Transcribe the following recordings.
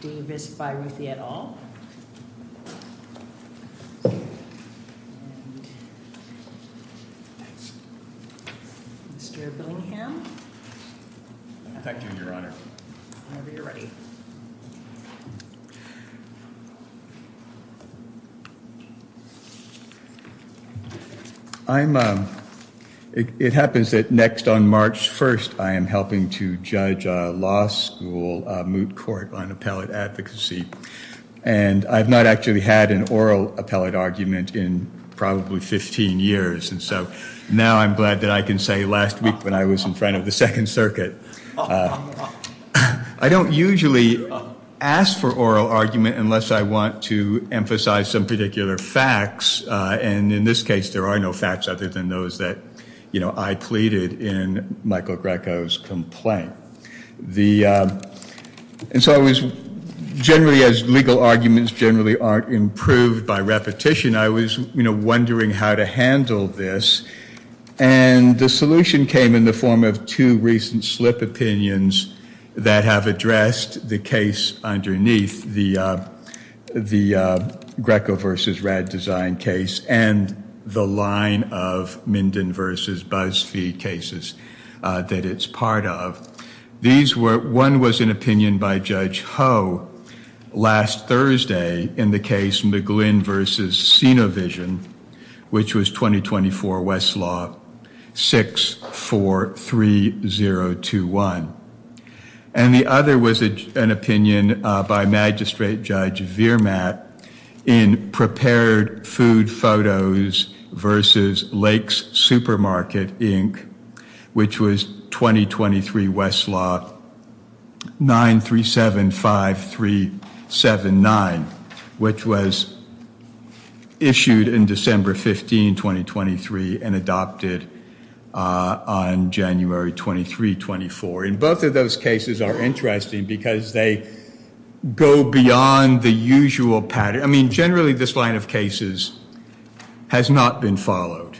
Davis, Byruthy, et al., and Mr. Billingham, whenever you're ready. It happens that next on March 1st, I am helping to judge a law school moot court on appellate advocacy. And I've not actually had an oral appellate argument in probably 15 years. And so now I'm glad that I can say last week when I was in front of the Second Circuit. I don't usually ask for oral argument unless I want to emphasize some particular facts. And in this case, there are no facts other than those that I pleaded in Michael Grecco's complaint. And so as legal arguments generally aren't improved by repetition, I was wondering how to handle this. And the solution came in the form of two recent slip opinions that have addressed the case underneath the Grecco v. RADesign case and the line of Minden v. Buzzfeed cases that it's part of. One was an opinion by Judge Ho last Thursday in the case McGlynn v. Cinovision, which was 2024 Westlaw 643021. And the other was an opinion by Magistrate Judge Virmat in prepared food photos versus Lakes Supermarket, Inc., which was 2023 Westlaw 9375379, which was issued in December 15, 2023, and adopted on January 23, 24. And both of those cases are interesting because they go beyond the usual pattern. I mean, generally, this line of cases has not been followed.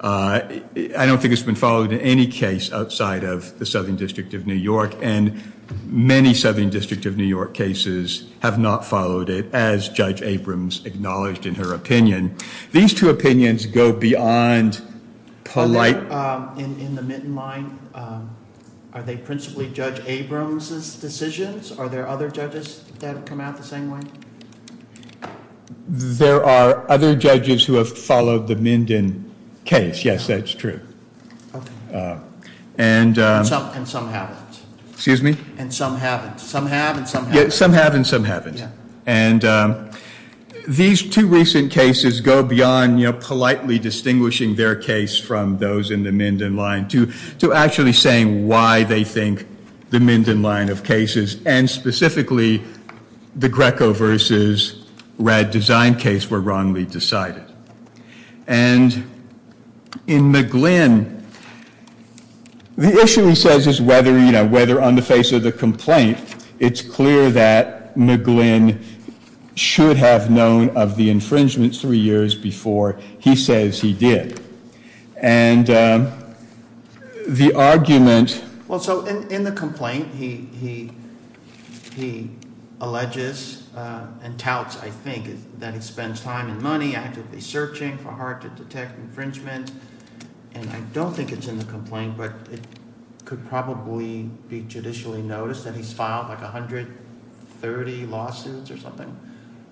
I don't think it's been followed in any case outside of the Southern District of New York. And many Southern District of New York cases have not followed it, as Judge Abrams acknowledged in her opinion. These two opinions go beyond polite. In the Minden line, are they principally Judge Abrams's decisions? Are there other judges that come out the same way? There are other judges who have followed the Minden case. Yes, that's true. And some haven't. Excuse me? And some haven't. Some have and some haven't. Some have and some haven't. Yeah. And these two recent cases go beyond, you know, politely distinguishing their case from those in the Minden line to actually saying why they think the Minden line of cases, and specifically the Greco versus Rad Design case, were wrongly decided. And in McGlynn, the issue he says is whether, you know, whether on the face of the complaint, it's clear that McGlynn should have known of the infringement three years before he says he did. And the argument— Well, so in the complaint, he alleges and touts, I think, that he spends time and money actively searching for hard-to-detect infringement. And I don't think it's in the complaint, but it could probably be judicially noticed that he's filed like 130 lawsuits or something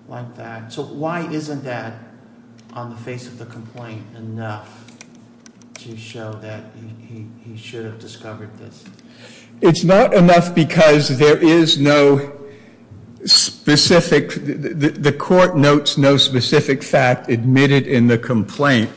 like that. So why isn't that on the face of the complaint enough to show that he should have discovered this? It's not enough because there is no specific—the court notes no specific fact admitted in the complaint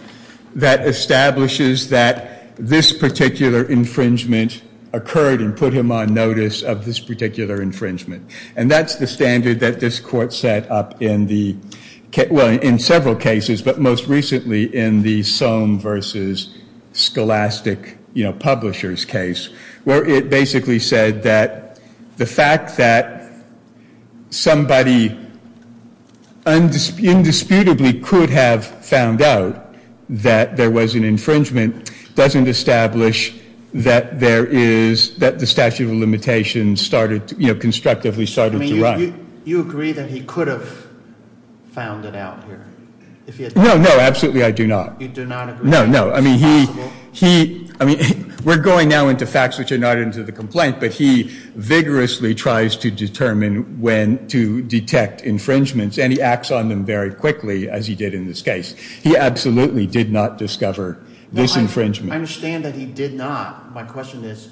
that establishes that this particular infringement occurred and put him on notice of this particular infringement. And that's the standard that this court set up in the—well, in several cases, but most recently in the Soam versus Scholastic Publishers case, where it basically said that the fact that somebody indisputably could have found out that there was an infringement doesn't establish that there is—that the statute of limitations started, you know, constructively started to run. So you agree that he could have found it out here? No, no, absolutely I do not. You do not agree? No, no. I mean, he—I mean, we're going now into facts which are not into the complaint, but he vigorously tries to determine when to detect infringements, and he acts on them very quickly, as he did in this case. He absolutely did not discover this infringement. I understand that he did not. My question is,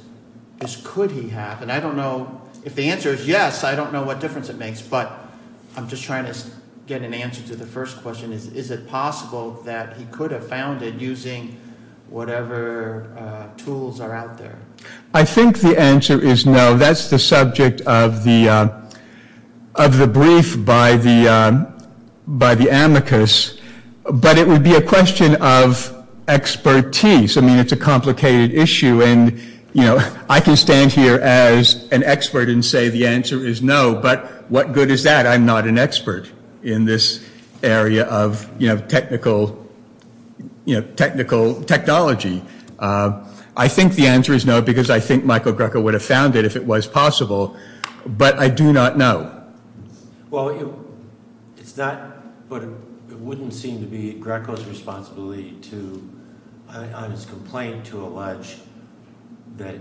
could he have? And I don't know—if the answer is yes, I don't know what difference it makes, but I'm just trying to get an answer to the first question. Is it possible that he could have found it using whatever tools are out there? I think the answer is no. That's the subject of the brief by the amicus, but it would be a question of expertise. I mean, it's a complicated issue, and, you know, I can stand here as an expert and say the answer is no, but what good is that? I'm not an expert in this area of, you know, technical technology. I think the answer is no because I think Michael Greco would have found it if it was possible, but I do not know. Well, it's not—but it wouldn't seem to be Greco's responsibility to, on his complaint, to allege that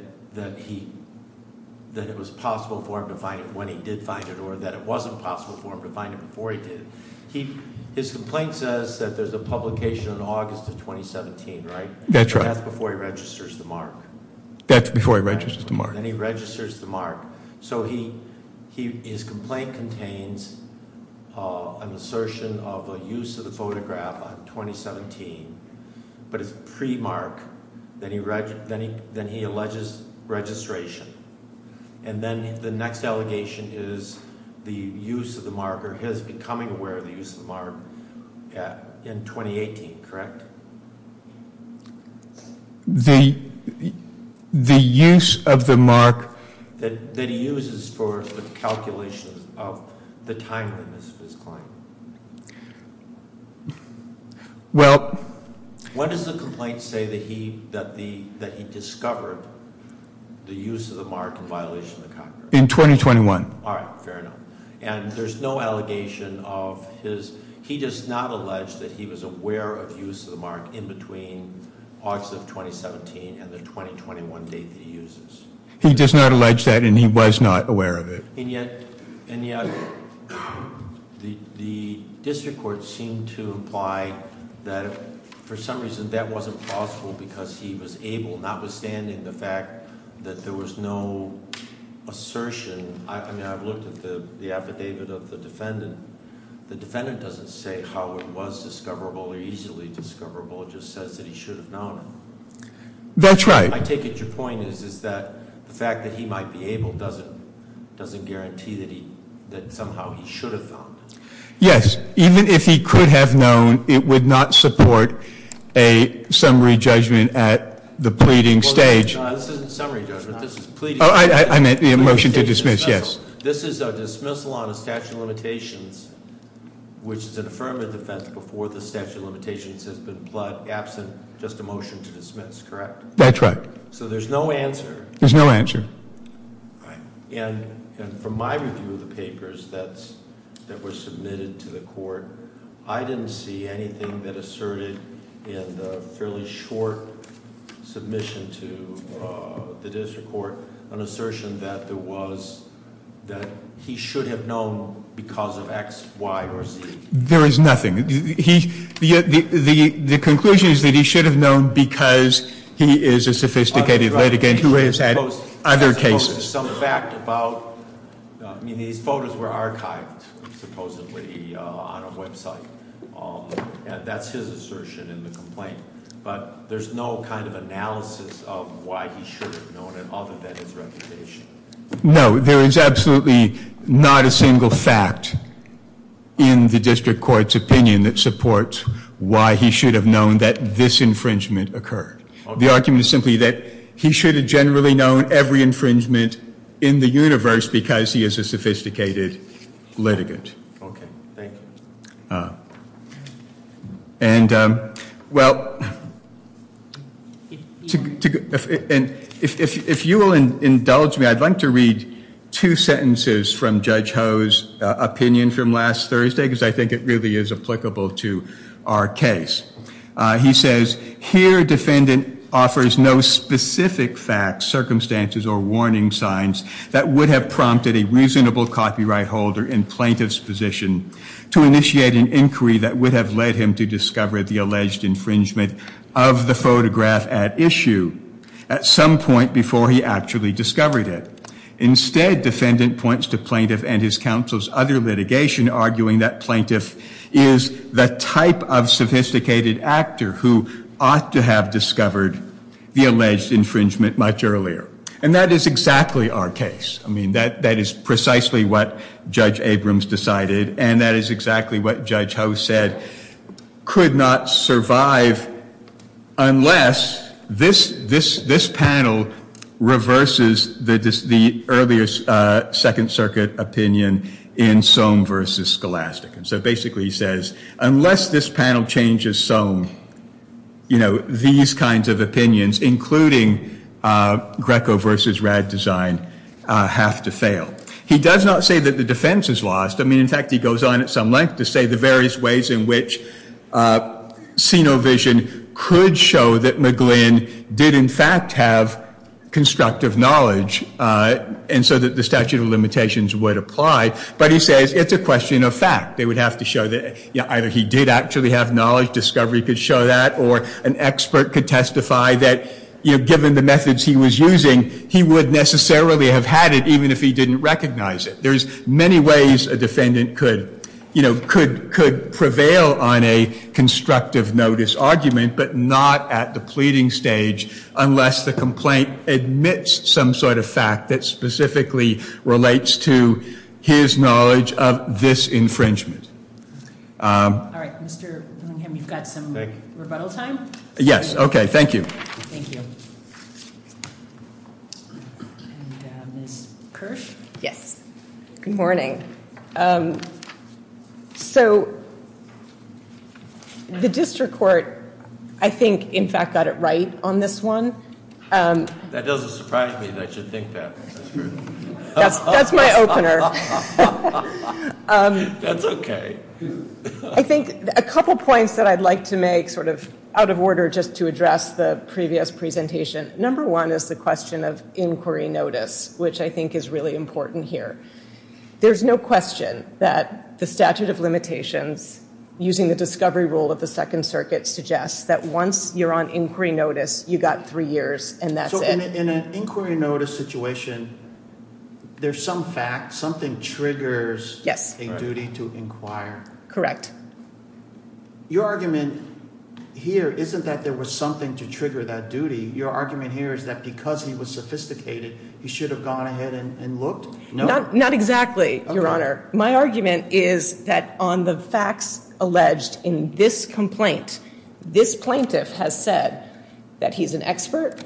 it was possible for him to find it when he did find it or that it wasn't possible for him to find it before he did. His complaint says that there's a publication on August of 2017, right? That's right. That's before he registers the mark. Then he registers the mark. So his complaint contains an assertion of a use of the photograph on 2017, but it's pre-mark. Then he alleges registration, and then the next allegation is the use of the mark or his becoming aware of the use of the mark in 2018, correct? The use of the mark— That he uses for calculations of the timeliness of his client. Well— When does the complaint say that he discovered the use of the mark in violation of the contract? In 2021. All right, fair enough. And there's no allegation of his—he does not allege that he was aware of use of the mark in between August of 2017 and the 2021 date that he uses. He does not allege that, and he was not aware of it. And yet, the district court seemed to imply that, for some reason, that wasn't possible because he was able, notwithstanding the fact that there was no assertion. I mean, I've looked at the affidavit of the defendant. The defendant doesn't say how it was discoverable or easily discoverable. It just says that he should have known. That's right. I take it your point is that the fact that he might be able doesn't guarantee that somehow he should have known. Yes. Even if he could have known, it would not support a summary judgment at the pleading stage. This isn't a summary judgment. This is pleading. I meant the motion to dismiss, yes. This is a dismissal on a statute of limitations, which is an affirmative defense before the statute of limitations has been applied, absent just a motion to dismiss, correct? That's right. So there's no answer. There's no answer. Right. And from my review of the papers that were submitted to the court, I didn't see anything that asserted in the fairly short submission to the district court an assertion that there was, that he should have known because of X, Y, or Z. There is nothing. The conclusion is that he should have known because he is a sophisticated litigant who has had other cases. Some fact about, I mean, these photos were archived supposedly on a website. That's his assertion in the complaint. But there's no kind of analysis of why he should have known it other than his reputation. No, there is absolutely not a single fact in the district court's opinion that supports why he should have known that this infringement occurred. The argument is simply that he should have generally known every infringement in the universe because he is a sophisticated litigant. Okay. Thank you. And, well, if you will indulge me, I'd like to read two sentences from Judge Ho's opinion from last Thursday, because I think it really is applicable to our case. He says, here defendant offers no specific facts, circumstances, or warning signs that would have prompted a reasonable copyright holder in plaintiff's position to initiate an inquiry that would have led him to discover the alleged infringement of the photograph at issue at some point before he actually discovered it. Instead, defendant points to plaintiff and his counsel's other litigation, arguing that plaintiff is the type of sophisticated actor who ought to have discovered the alleged infringement much earlier. And that is exactly our case. I mean, that is precisely what Judge Abrams decided, and that is exactly what Judge Ho said, could not survive unless this panel reverses the earlier Second Circuit opinion in Soam versus Scholastic. And so basically he says, unless this panel changes Soam, you know, these kinds of opinions, including Greco versus Raddesign, have to fail. He does not say that the defense is lost. I mean, in fact, he goes on at some length to say the various ways in which CINOVISION could show that McGlynn did in fact have constructive knowledge, and so that the statute of limitations would apply. But he says it's a question of fact. They would have to show that either he did actually have knowledge, discovery could show that, or an expert could testify that, you know, given the methods he was using, he would necessarily have had it even if he didn't recognize it. There's many ways a defendant could, you know, could prevail on a constructive notice argument, but not at the pleading stage unless the complaint admits some sort of fact that specifically relates to his knowledge of this infringement. All right. Mr. Bloomham, you've got some rebuttal time? Yes. Okay. Thank you. Thank you. And Ms. Kirsch? Yes. Good morning. So the district court, I think, in fact, got it right on this one. That doesn't surprise me that you think that. That's true. That's my opener. That's okay. I think a couple points that I'd like to make sort of out of order just to address the previous presentation. Number one is the question of inquiry notice, which I think is really important here. There's no question that the statute of limitations, using the discovery rule of the Second Circuit, suggests that once you're on inquiry notice, you've got three years and that's it. So in an inquiry notice situation, there's some fact, something triggers a duty to inquire. Correct. Your argument here isn't that there was something to trigger that duty. Your argument here is that because he was sophisticated, he should have gone ahead and looked? No. Not exactly, Your Honor. Okay. My argument is that on the facts alleged in this complaint, this plaintiff has said that he's an expert,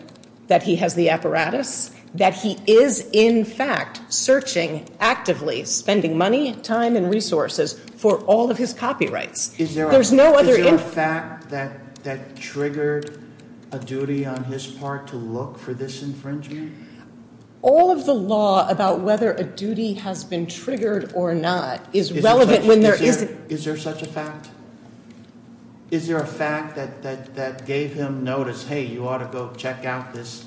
that he has the apparatus, that he is, in fact, searching actively, spending money, time, and resources for all of his copyrights. Is there a fact that triggered a duty on his part to look for this infringement? All of the law about whether a duty has been triggered or not is relevant when there isn't. Is there such a fact? Is there a fact that gave him notice, hey, you ought to go check out this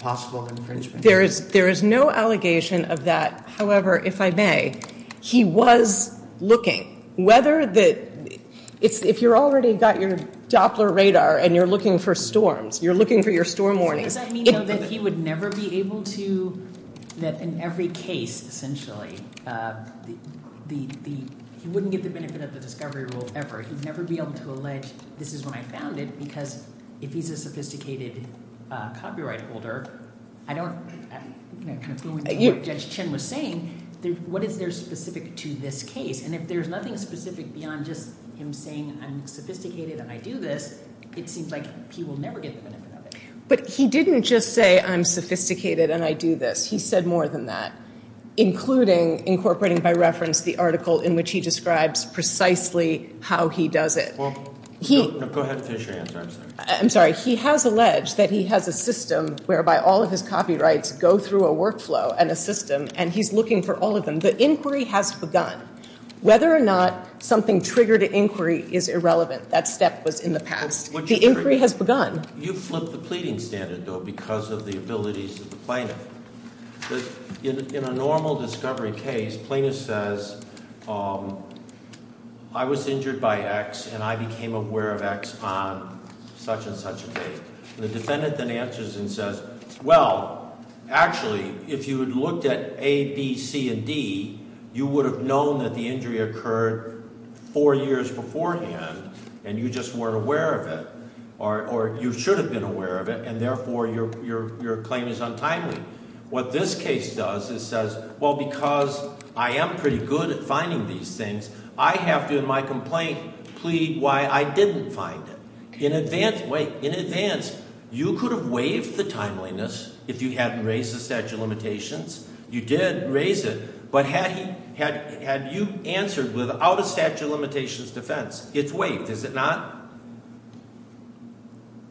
possible infringement? There is no allegation of that. However, if I may, he was looking. Whether the ‑‑ if you've already got your Doppler radar and you're looking for storms, you're looking for your storm warning. Does that mean, though, that he would never be able to ‑‑ that in every case, essentially, he wouldn't get the benefit of the discovery rule ever. He would never be able to allege this is when I found it because if he's a sophisticated copyright holder, I don't ‑‑ going to what Judge Chin was saying, what is there specific to this case? And if there's nothing specific beyond just him saying I'm sophisticated and I do this, it seems like he will never get the benefit of it. But he didn't just say I'm sophisticated and I do this. He said more than that, including incorporating by reference the article in which he describes precisely how he does it. Go ahead and finish your answer. I'm sorry. He has alleged that he has a system whereby all of his copyrights go through a workflow and a system and he's looking for all of them. The inquiry has begun. Whether or not something triggered an inquiry is irrelevant. That step was in the past. The inquiry has begun. You flipped the pleading standard, though, because of the abilities of the plaintiff. In a normal discovery case, plaintiff says I was injured by X and I became aware of X on such and such a date. The defendant then answers and says, well, actually, if you had looked at A, B, C, and D, you would have known that the injury occurred four years beforehand and you just weren't aware of it or you should have been aware of it and, therefore, your claim is untimely. What this case does is says, well, because I am pretty good at finding these things, I have to, in my complaint, plead why I didn't find it. In advance, you could have waived the timeliness if you hadn't raised the statute of limitations. You did raise it, but had you answered without a statute of limitations defense, it's waived, is it not?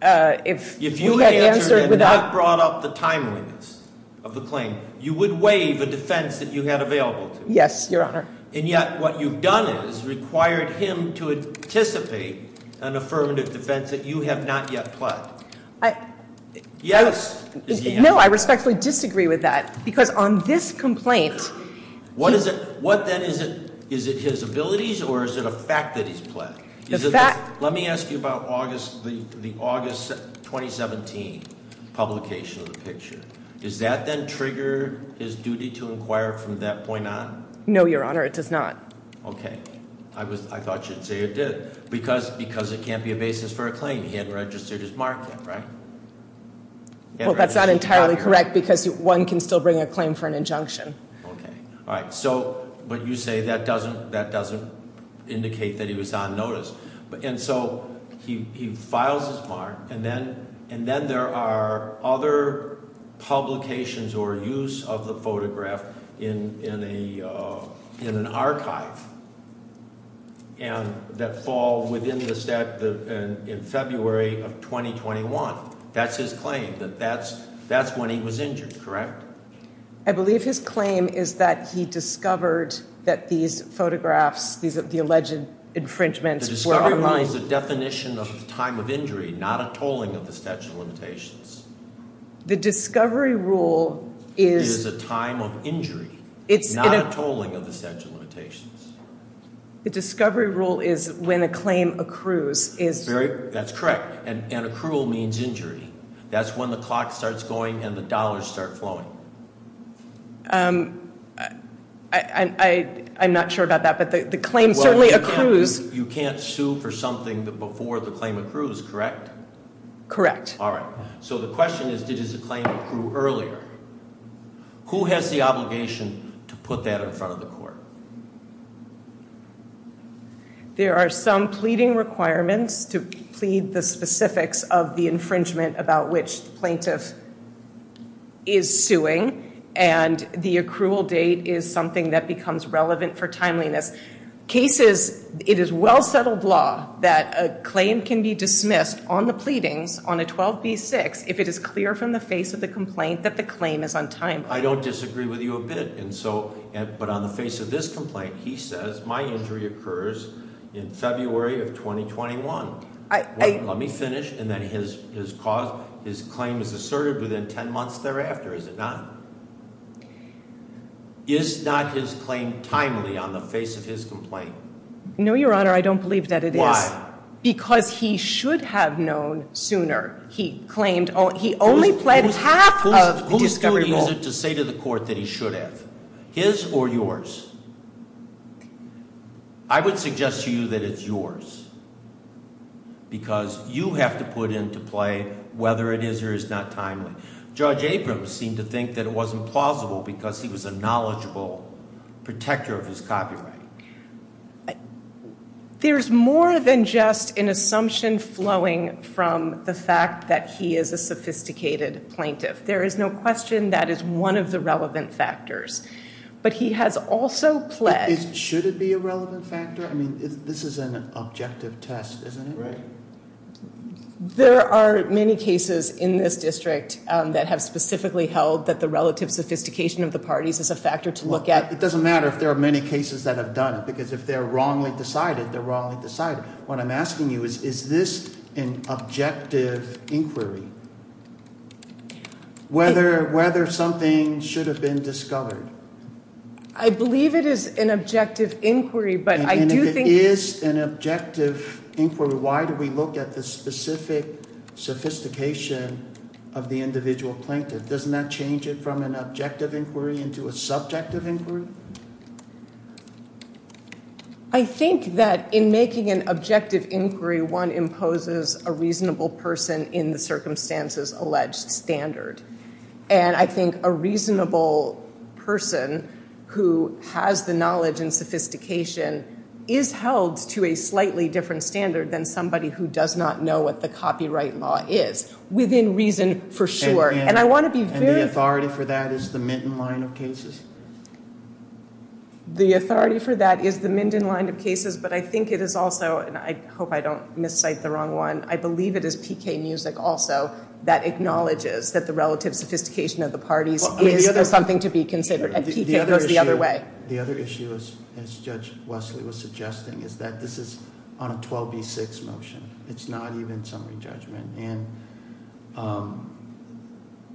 If you had answered without- If you had answered and not brought up the timeliness of the claim, you would waive a defense that you had available to you. Yes, Your Honor. And yet, what you've done is required him to anticipate an affirmative defense that you have not yet pled. I- Yes, is the answer. No, I respectfully disagree with that, because on this complaint- What is it? What, then, is it his abilities or is it a fact that he's pled? The fact- Let me ask you about the August 2017 publication of the picture. Does that then trigger his duty to inquire from that point on? No, Your Honor, it does not. Okay. I thought you'd say it did, because it can't be a basis for a claim. He hadn't registered his mark yet, right? Well, that's not entirely correct, because one can still bring a claim for an injunction. Okay. All right. So, but you say that doesn't indicate that he was on notice. And so he files his mark, and then there are other publications or use of the photograph in an archive that fall within the statute in February of 2021. That's his claim, that that's when he was injured, correct? I believe his claim is that he discovered that these photographs, the alleged infringements- The discovery rule is a definition of the time of injury, not a tolling of the statute of limitations. The discovery rule is- Is a time of injury, not a tolling of the statute of limitations. The discovery rule is when a claim accrues. That's correct. And accrual means injury. That's when the clock starts going and the dollars start flowing. I'm not sure about that, but the claim certainly accrues- Well, you can't sue for something before the claim accrues, correct? Correct. All right. So the question is, did his claim accrue earlier? Who has the obligation to put that in front of the court? There are some pleading requirements to plead the specifics of the infringement about which the plaintiff is suing. And the accrual date is something that becomes relevant for timeliness. Cases, it is well-settled law that a claim can be dismissed on the pleadings on a 12b6 if it is clear from the face of the complaint that the claim is on time. I don't disagree with you a bit. But on the face of this complaint, he says my injury occurs in February of 2021. Let me finish, and then his claim is asserted within ten months thereafter, is it not? Is not his claim timely on the face of his complaint? No, Your Honor, I don't believe that it is. Why? Because he should have known sooner. He only pled half of the discovery rule. Is it to say to the court that he should have? His or yours? I would suggest to you that it's yours. Because you have to put into play whether it is or is not timely. Judge Abrams seemed to think that it wasn't plausible because he was a knowledgeable protector of his copyright. There's more than just an assumption flowing from the fact that he is a sophisticated plaintiff. There is no question that is one of the relevant factors. But he has also pled... Should it be a relevant factor? I mean, this is an objective test, isn't it? Right. There are many cases in this district that have specifically held that the relative sophistication of the parties is a factor to look at. It doesn't matter if there are many cases that have done it, because if they're wrongly decided, they're wrongly decided. What I'm asking you is, is this an objective inquiry? Whether something should have been discovered. I believe it is an objective inquiry, but I do think... And if it is an objective inquiry, why do we look at the specific sophistication of the individual plaintiff? Doesn't that change it from an objective inquiry into a subjective inquiry? I think that in making an objective inquiry, one imposes a reasonable person in the circumstances alleged standard. And I think a reasonable person who has the knowledge and sophistication is held to a slightly different standard than somebody who does not know what the copyright law is. Within reason for sure. And the authority for that is the Minton line of cases? The authority for that is the Minton line of cases, but I think it is also, and I hope I don't miscite the wrong one, I believe it is PK Music also that acknowledges that the relative sophistication of the parties is something to be considered. And PK goes the other way. The other issue, as Judge Wesley was suggesting, is that this is on a 12B6 motion. It's not even summary judgment. And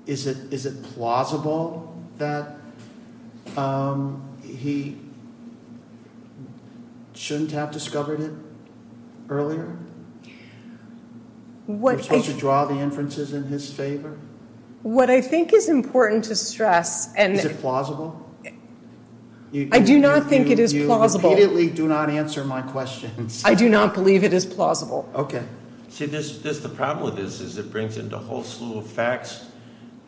is it plausible that he shouldn't have discovered it earlier? We're supposed to draw the inferences in his favor? What I think is important to stress. Is it plausible? I do not think it is plausible. You immediately do not answer my questions. I do not believe it is plausible. Okay. See, the problem with this is it brings in a whole slew of facts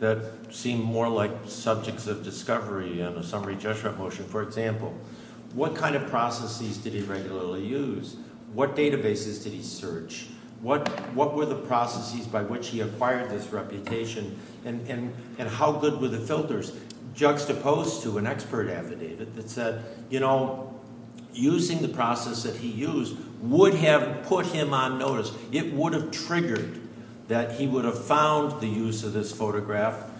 that seem more like subjects of discovery in a summary judgment motion. For example, what kind of processes did he regularly use? What databases did he search? What were the processes by which he acquired this reputation? And how good were the filters? Juxtaposed to an expert affidavit that said, you know, using the process that he used would have put him on notice. It would have triggered that he would have found the use of this photograph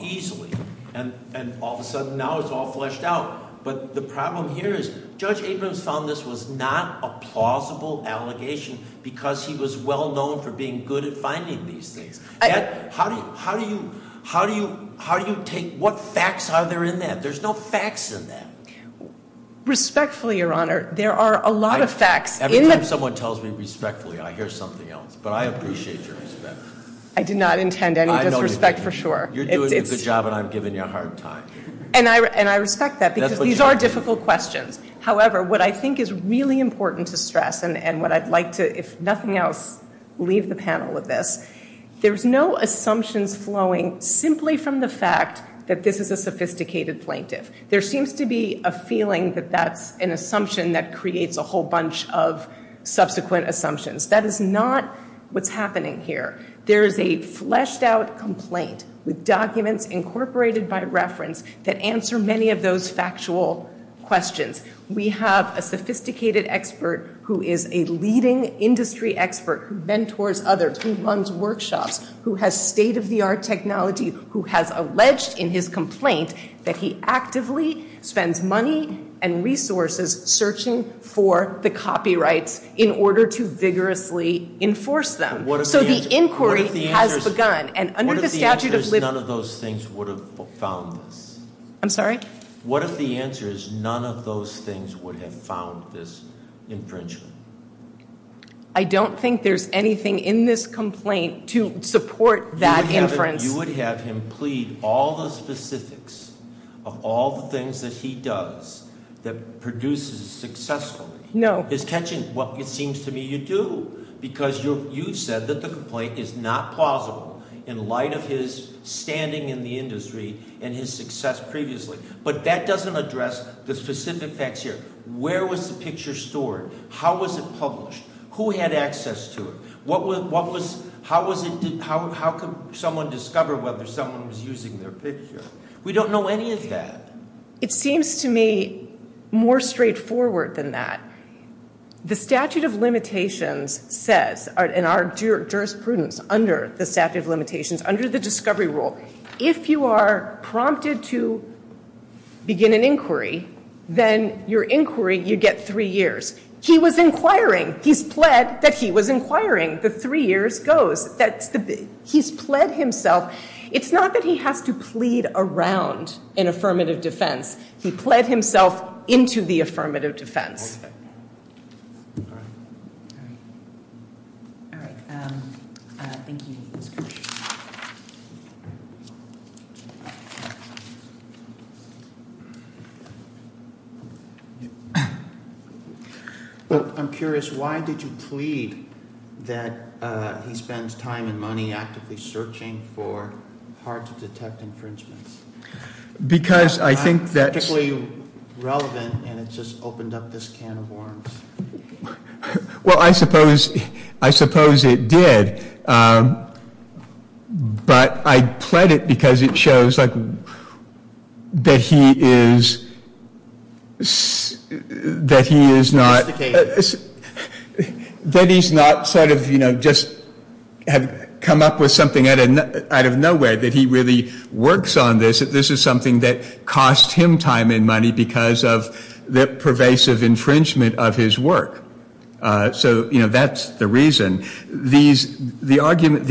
easily. And all of a sudden now it's all fleshed out. But the problem here is Judge Abrams found this was not a plausible allegation because he was well known for being good at finding these things. How do you take what facts are there in that? There's no facts in that. Respectfully, Your Honor, there are a lot of facts in that. Every time someone tells me respectfully I hear something else. But I appreciate your respect. I did not intend any disrespect for sure. You're doing a good job and I'm giving you a hard time. And I respect that because these are difficult questions. However, what I think is really important to stress and what I'd like to, if nothing else, leave the panel with this, there's no assumptions flowing simply from the fact that this is a sophisticated plaintiff. There seems to be a feeling that that's an assumption that creates a whole bunch of subsequent assumptions. That is not what's happening here. There is a fleshed out complaint with documents incorporated by reference that answer many of those factual questions. We have a sophisticated expert who is a leading industry expert, who mentors others, who runs workshops, who has state of the art technology, who has alleged in his complaint that he actively spends money and resources searching for the copyrights in order to vigorously enforce them. So the inquiry has begun and under the statute of- What if the answer is none of those things would have found this? I'm sorry? What if the answer is none of those things would have found this infringement? I don't think there's anything in this complaint to support that inference. You would have him plead all the specifics of all the things that he does that produces successfully. No. He's catching what it seems to me you do because you said that the complaint is not plausible in light of his standing in the industry and his success previously. But that doesn't address the specific facts here. Where was the picture stored? How was it published? Who had access to it? How could someone discover whether someone was using their picture? We don't know any of that. It seems to me more straightforward than that. The statute of limitations says in our jurisprudence under the statute of limitations, under the discovery rule, if you are prompted to begin an inquiry, then your inquiry, you get three years. He was inquiring. He's pled that he was inquiring. The three years goes. He's pled himself. It's not that he has to plead around an affirmative defense. He pled himself into the affirmative defense. All right. All right. Thank you. I'm curious. Why did you plead that he spends time and money actively searching for hard to detect infringements? Because I think that's... It's not particularly relevant and it just opened up this can of worms. Well, I suppose it did. But I pled it because it shows that he is not sort of just come up with something out of nowhere, that he really works on this, that this is something that costs him time and money because of the pervasive infringement of his work. So that's the reason. The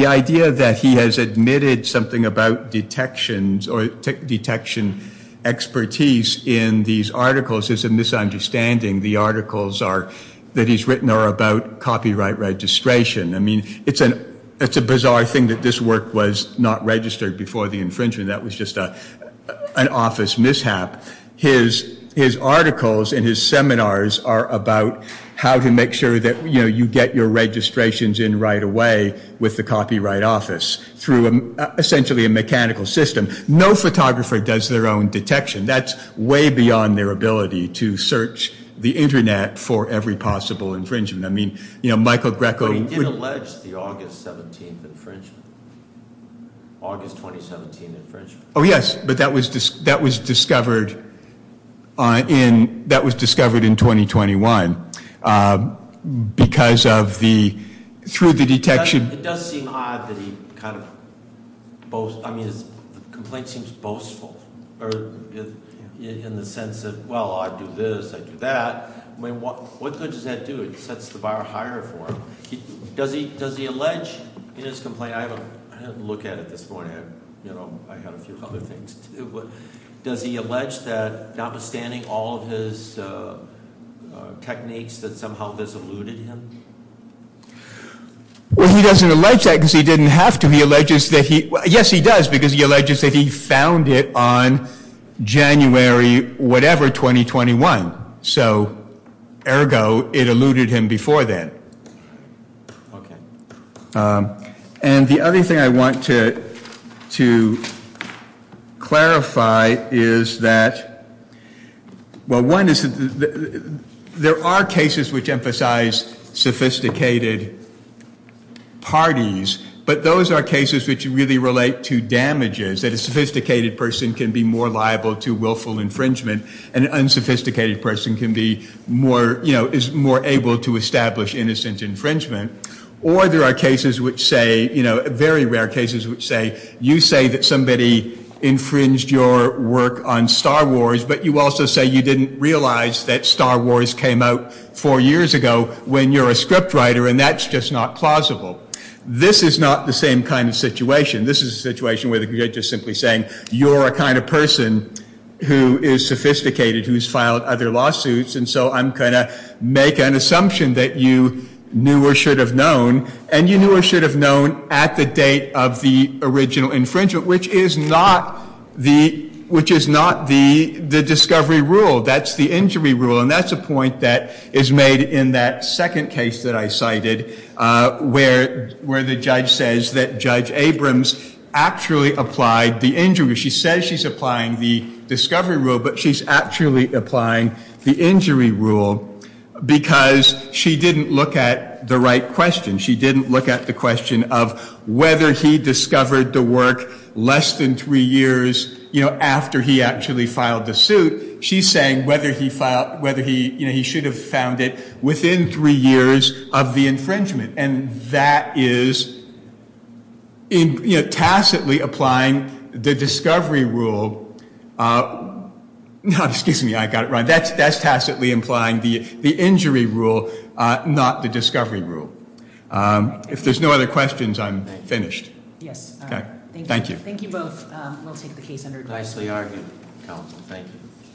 idea that he has admitted something about detections or detection expertise in these articles is a misunderstanding. The articles that he's written are about copyright registration. I mean, it's a bizarre thing that this work was not registered before the infringement. That was just an office mishap. His articles and his seminars are about how to make sure that you get your registrations in right away with the copyright office through essentially a mechanical system. No photographer does their own detection. That's way beyond their ability to search the Internet for every possible infringement. I mean, Michael Greco... But he did allege the August 17th infringement. August 2017 infringement. Oh, yes. But that was discovered in 2021 because of the... Through the detection... It does seem odd that he kind of boasts... I mean, his complaint seems boastful in the sense of, well, I do this, I do that. I mean, what good does that do? It sets the bar higher for him. Does he allege in his complaint... I haven't looked at it this morning. I have a few other things. Does he allege that, notwithstanding all of his techniques, that somehow this eluded him? Well, he doesn't allege that because he didn't have to. He alleges that he... Yes, he does, because he alleges that he found it on January whatever 2021. So, ergo, it eluded him before then. Okay. And the other thing I want to clarify is that, well, one is that there are cases which emphasize sophisticated parties, but those are cases which really relate to damages, that a sophisticated person can be more liable to willful infringement and an unsophisticated person can be more, you know, is more able to establish innocent infringement. Or there are cases which say, you know, very rare cases which say, you say that somebody infringed your work on Star Wars, but you also say you didn't realize that Star Wars came out four years ago when you're a script writer, and that's just not plausible. This is not the same kind of situation. This is a situation where the judge is simply saying, you're a kind of person who is sophisticated, who's filed other lawsuits, and so I'm going to make an assumption that you knew or should have known, and you knew or should have known at the date of the original infringement, which is not the discovery rule. That's the injury rule, and that's a point that is made in that second case that I cited, where the judge says that Judge Abrams actually applied the injury. She says she's applying the discovery rule, but she's actually applying the injury rule because she didn't look at the right question. She didn't look at the question of whether he discovered the work less than three years, you know, after he actually filed the suit. She's saying whether he should have found it within three years of the infringement, and that is tacitly applying the discovery rule. Now, excuse me. I got it right. That's tacitly implying the injury rule, not the discovery rule. If there's no other questions, I'm finished. Yes. Thank you. Thank you both. We'll take the case under discussion. Nicely argued, counsel. Thank you.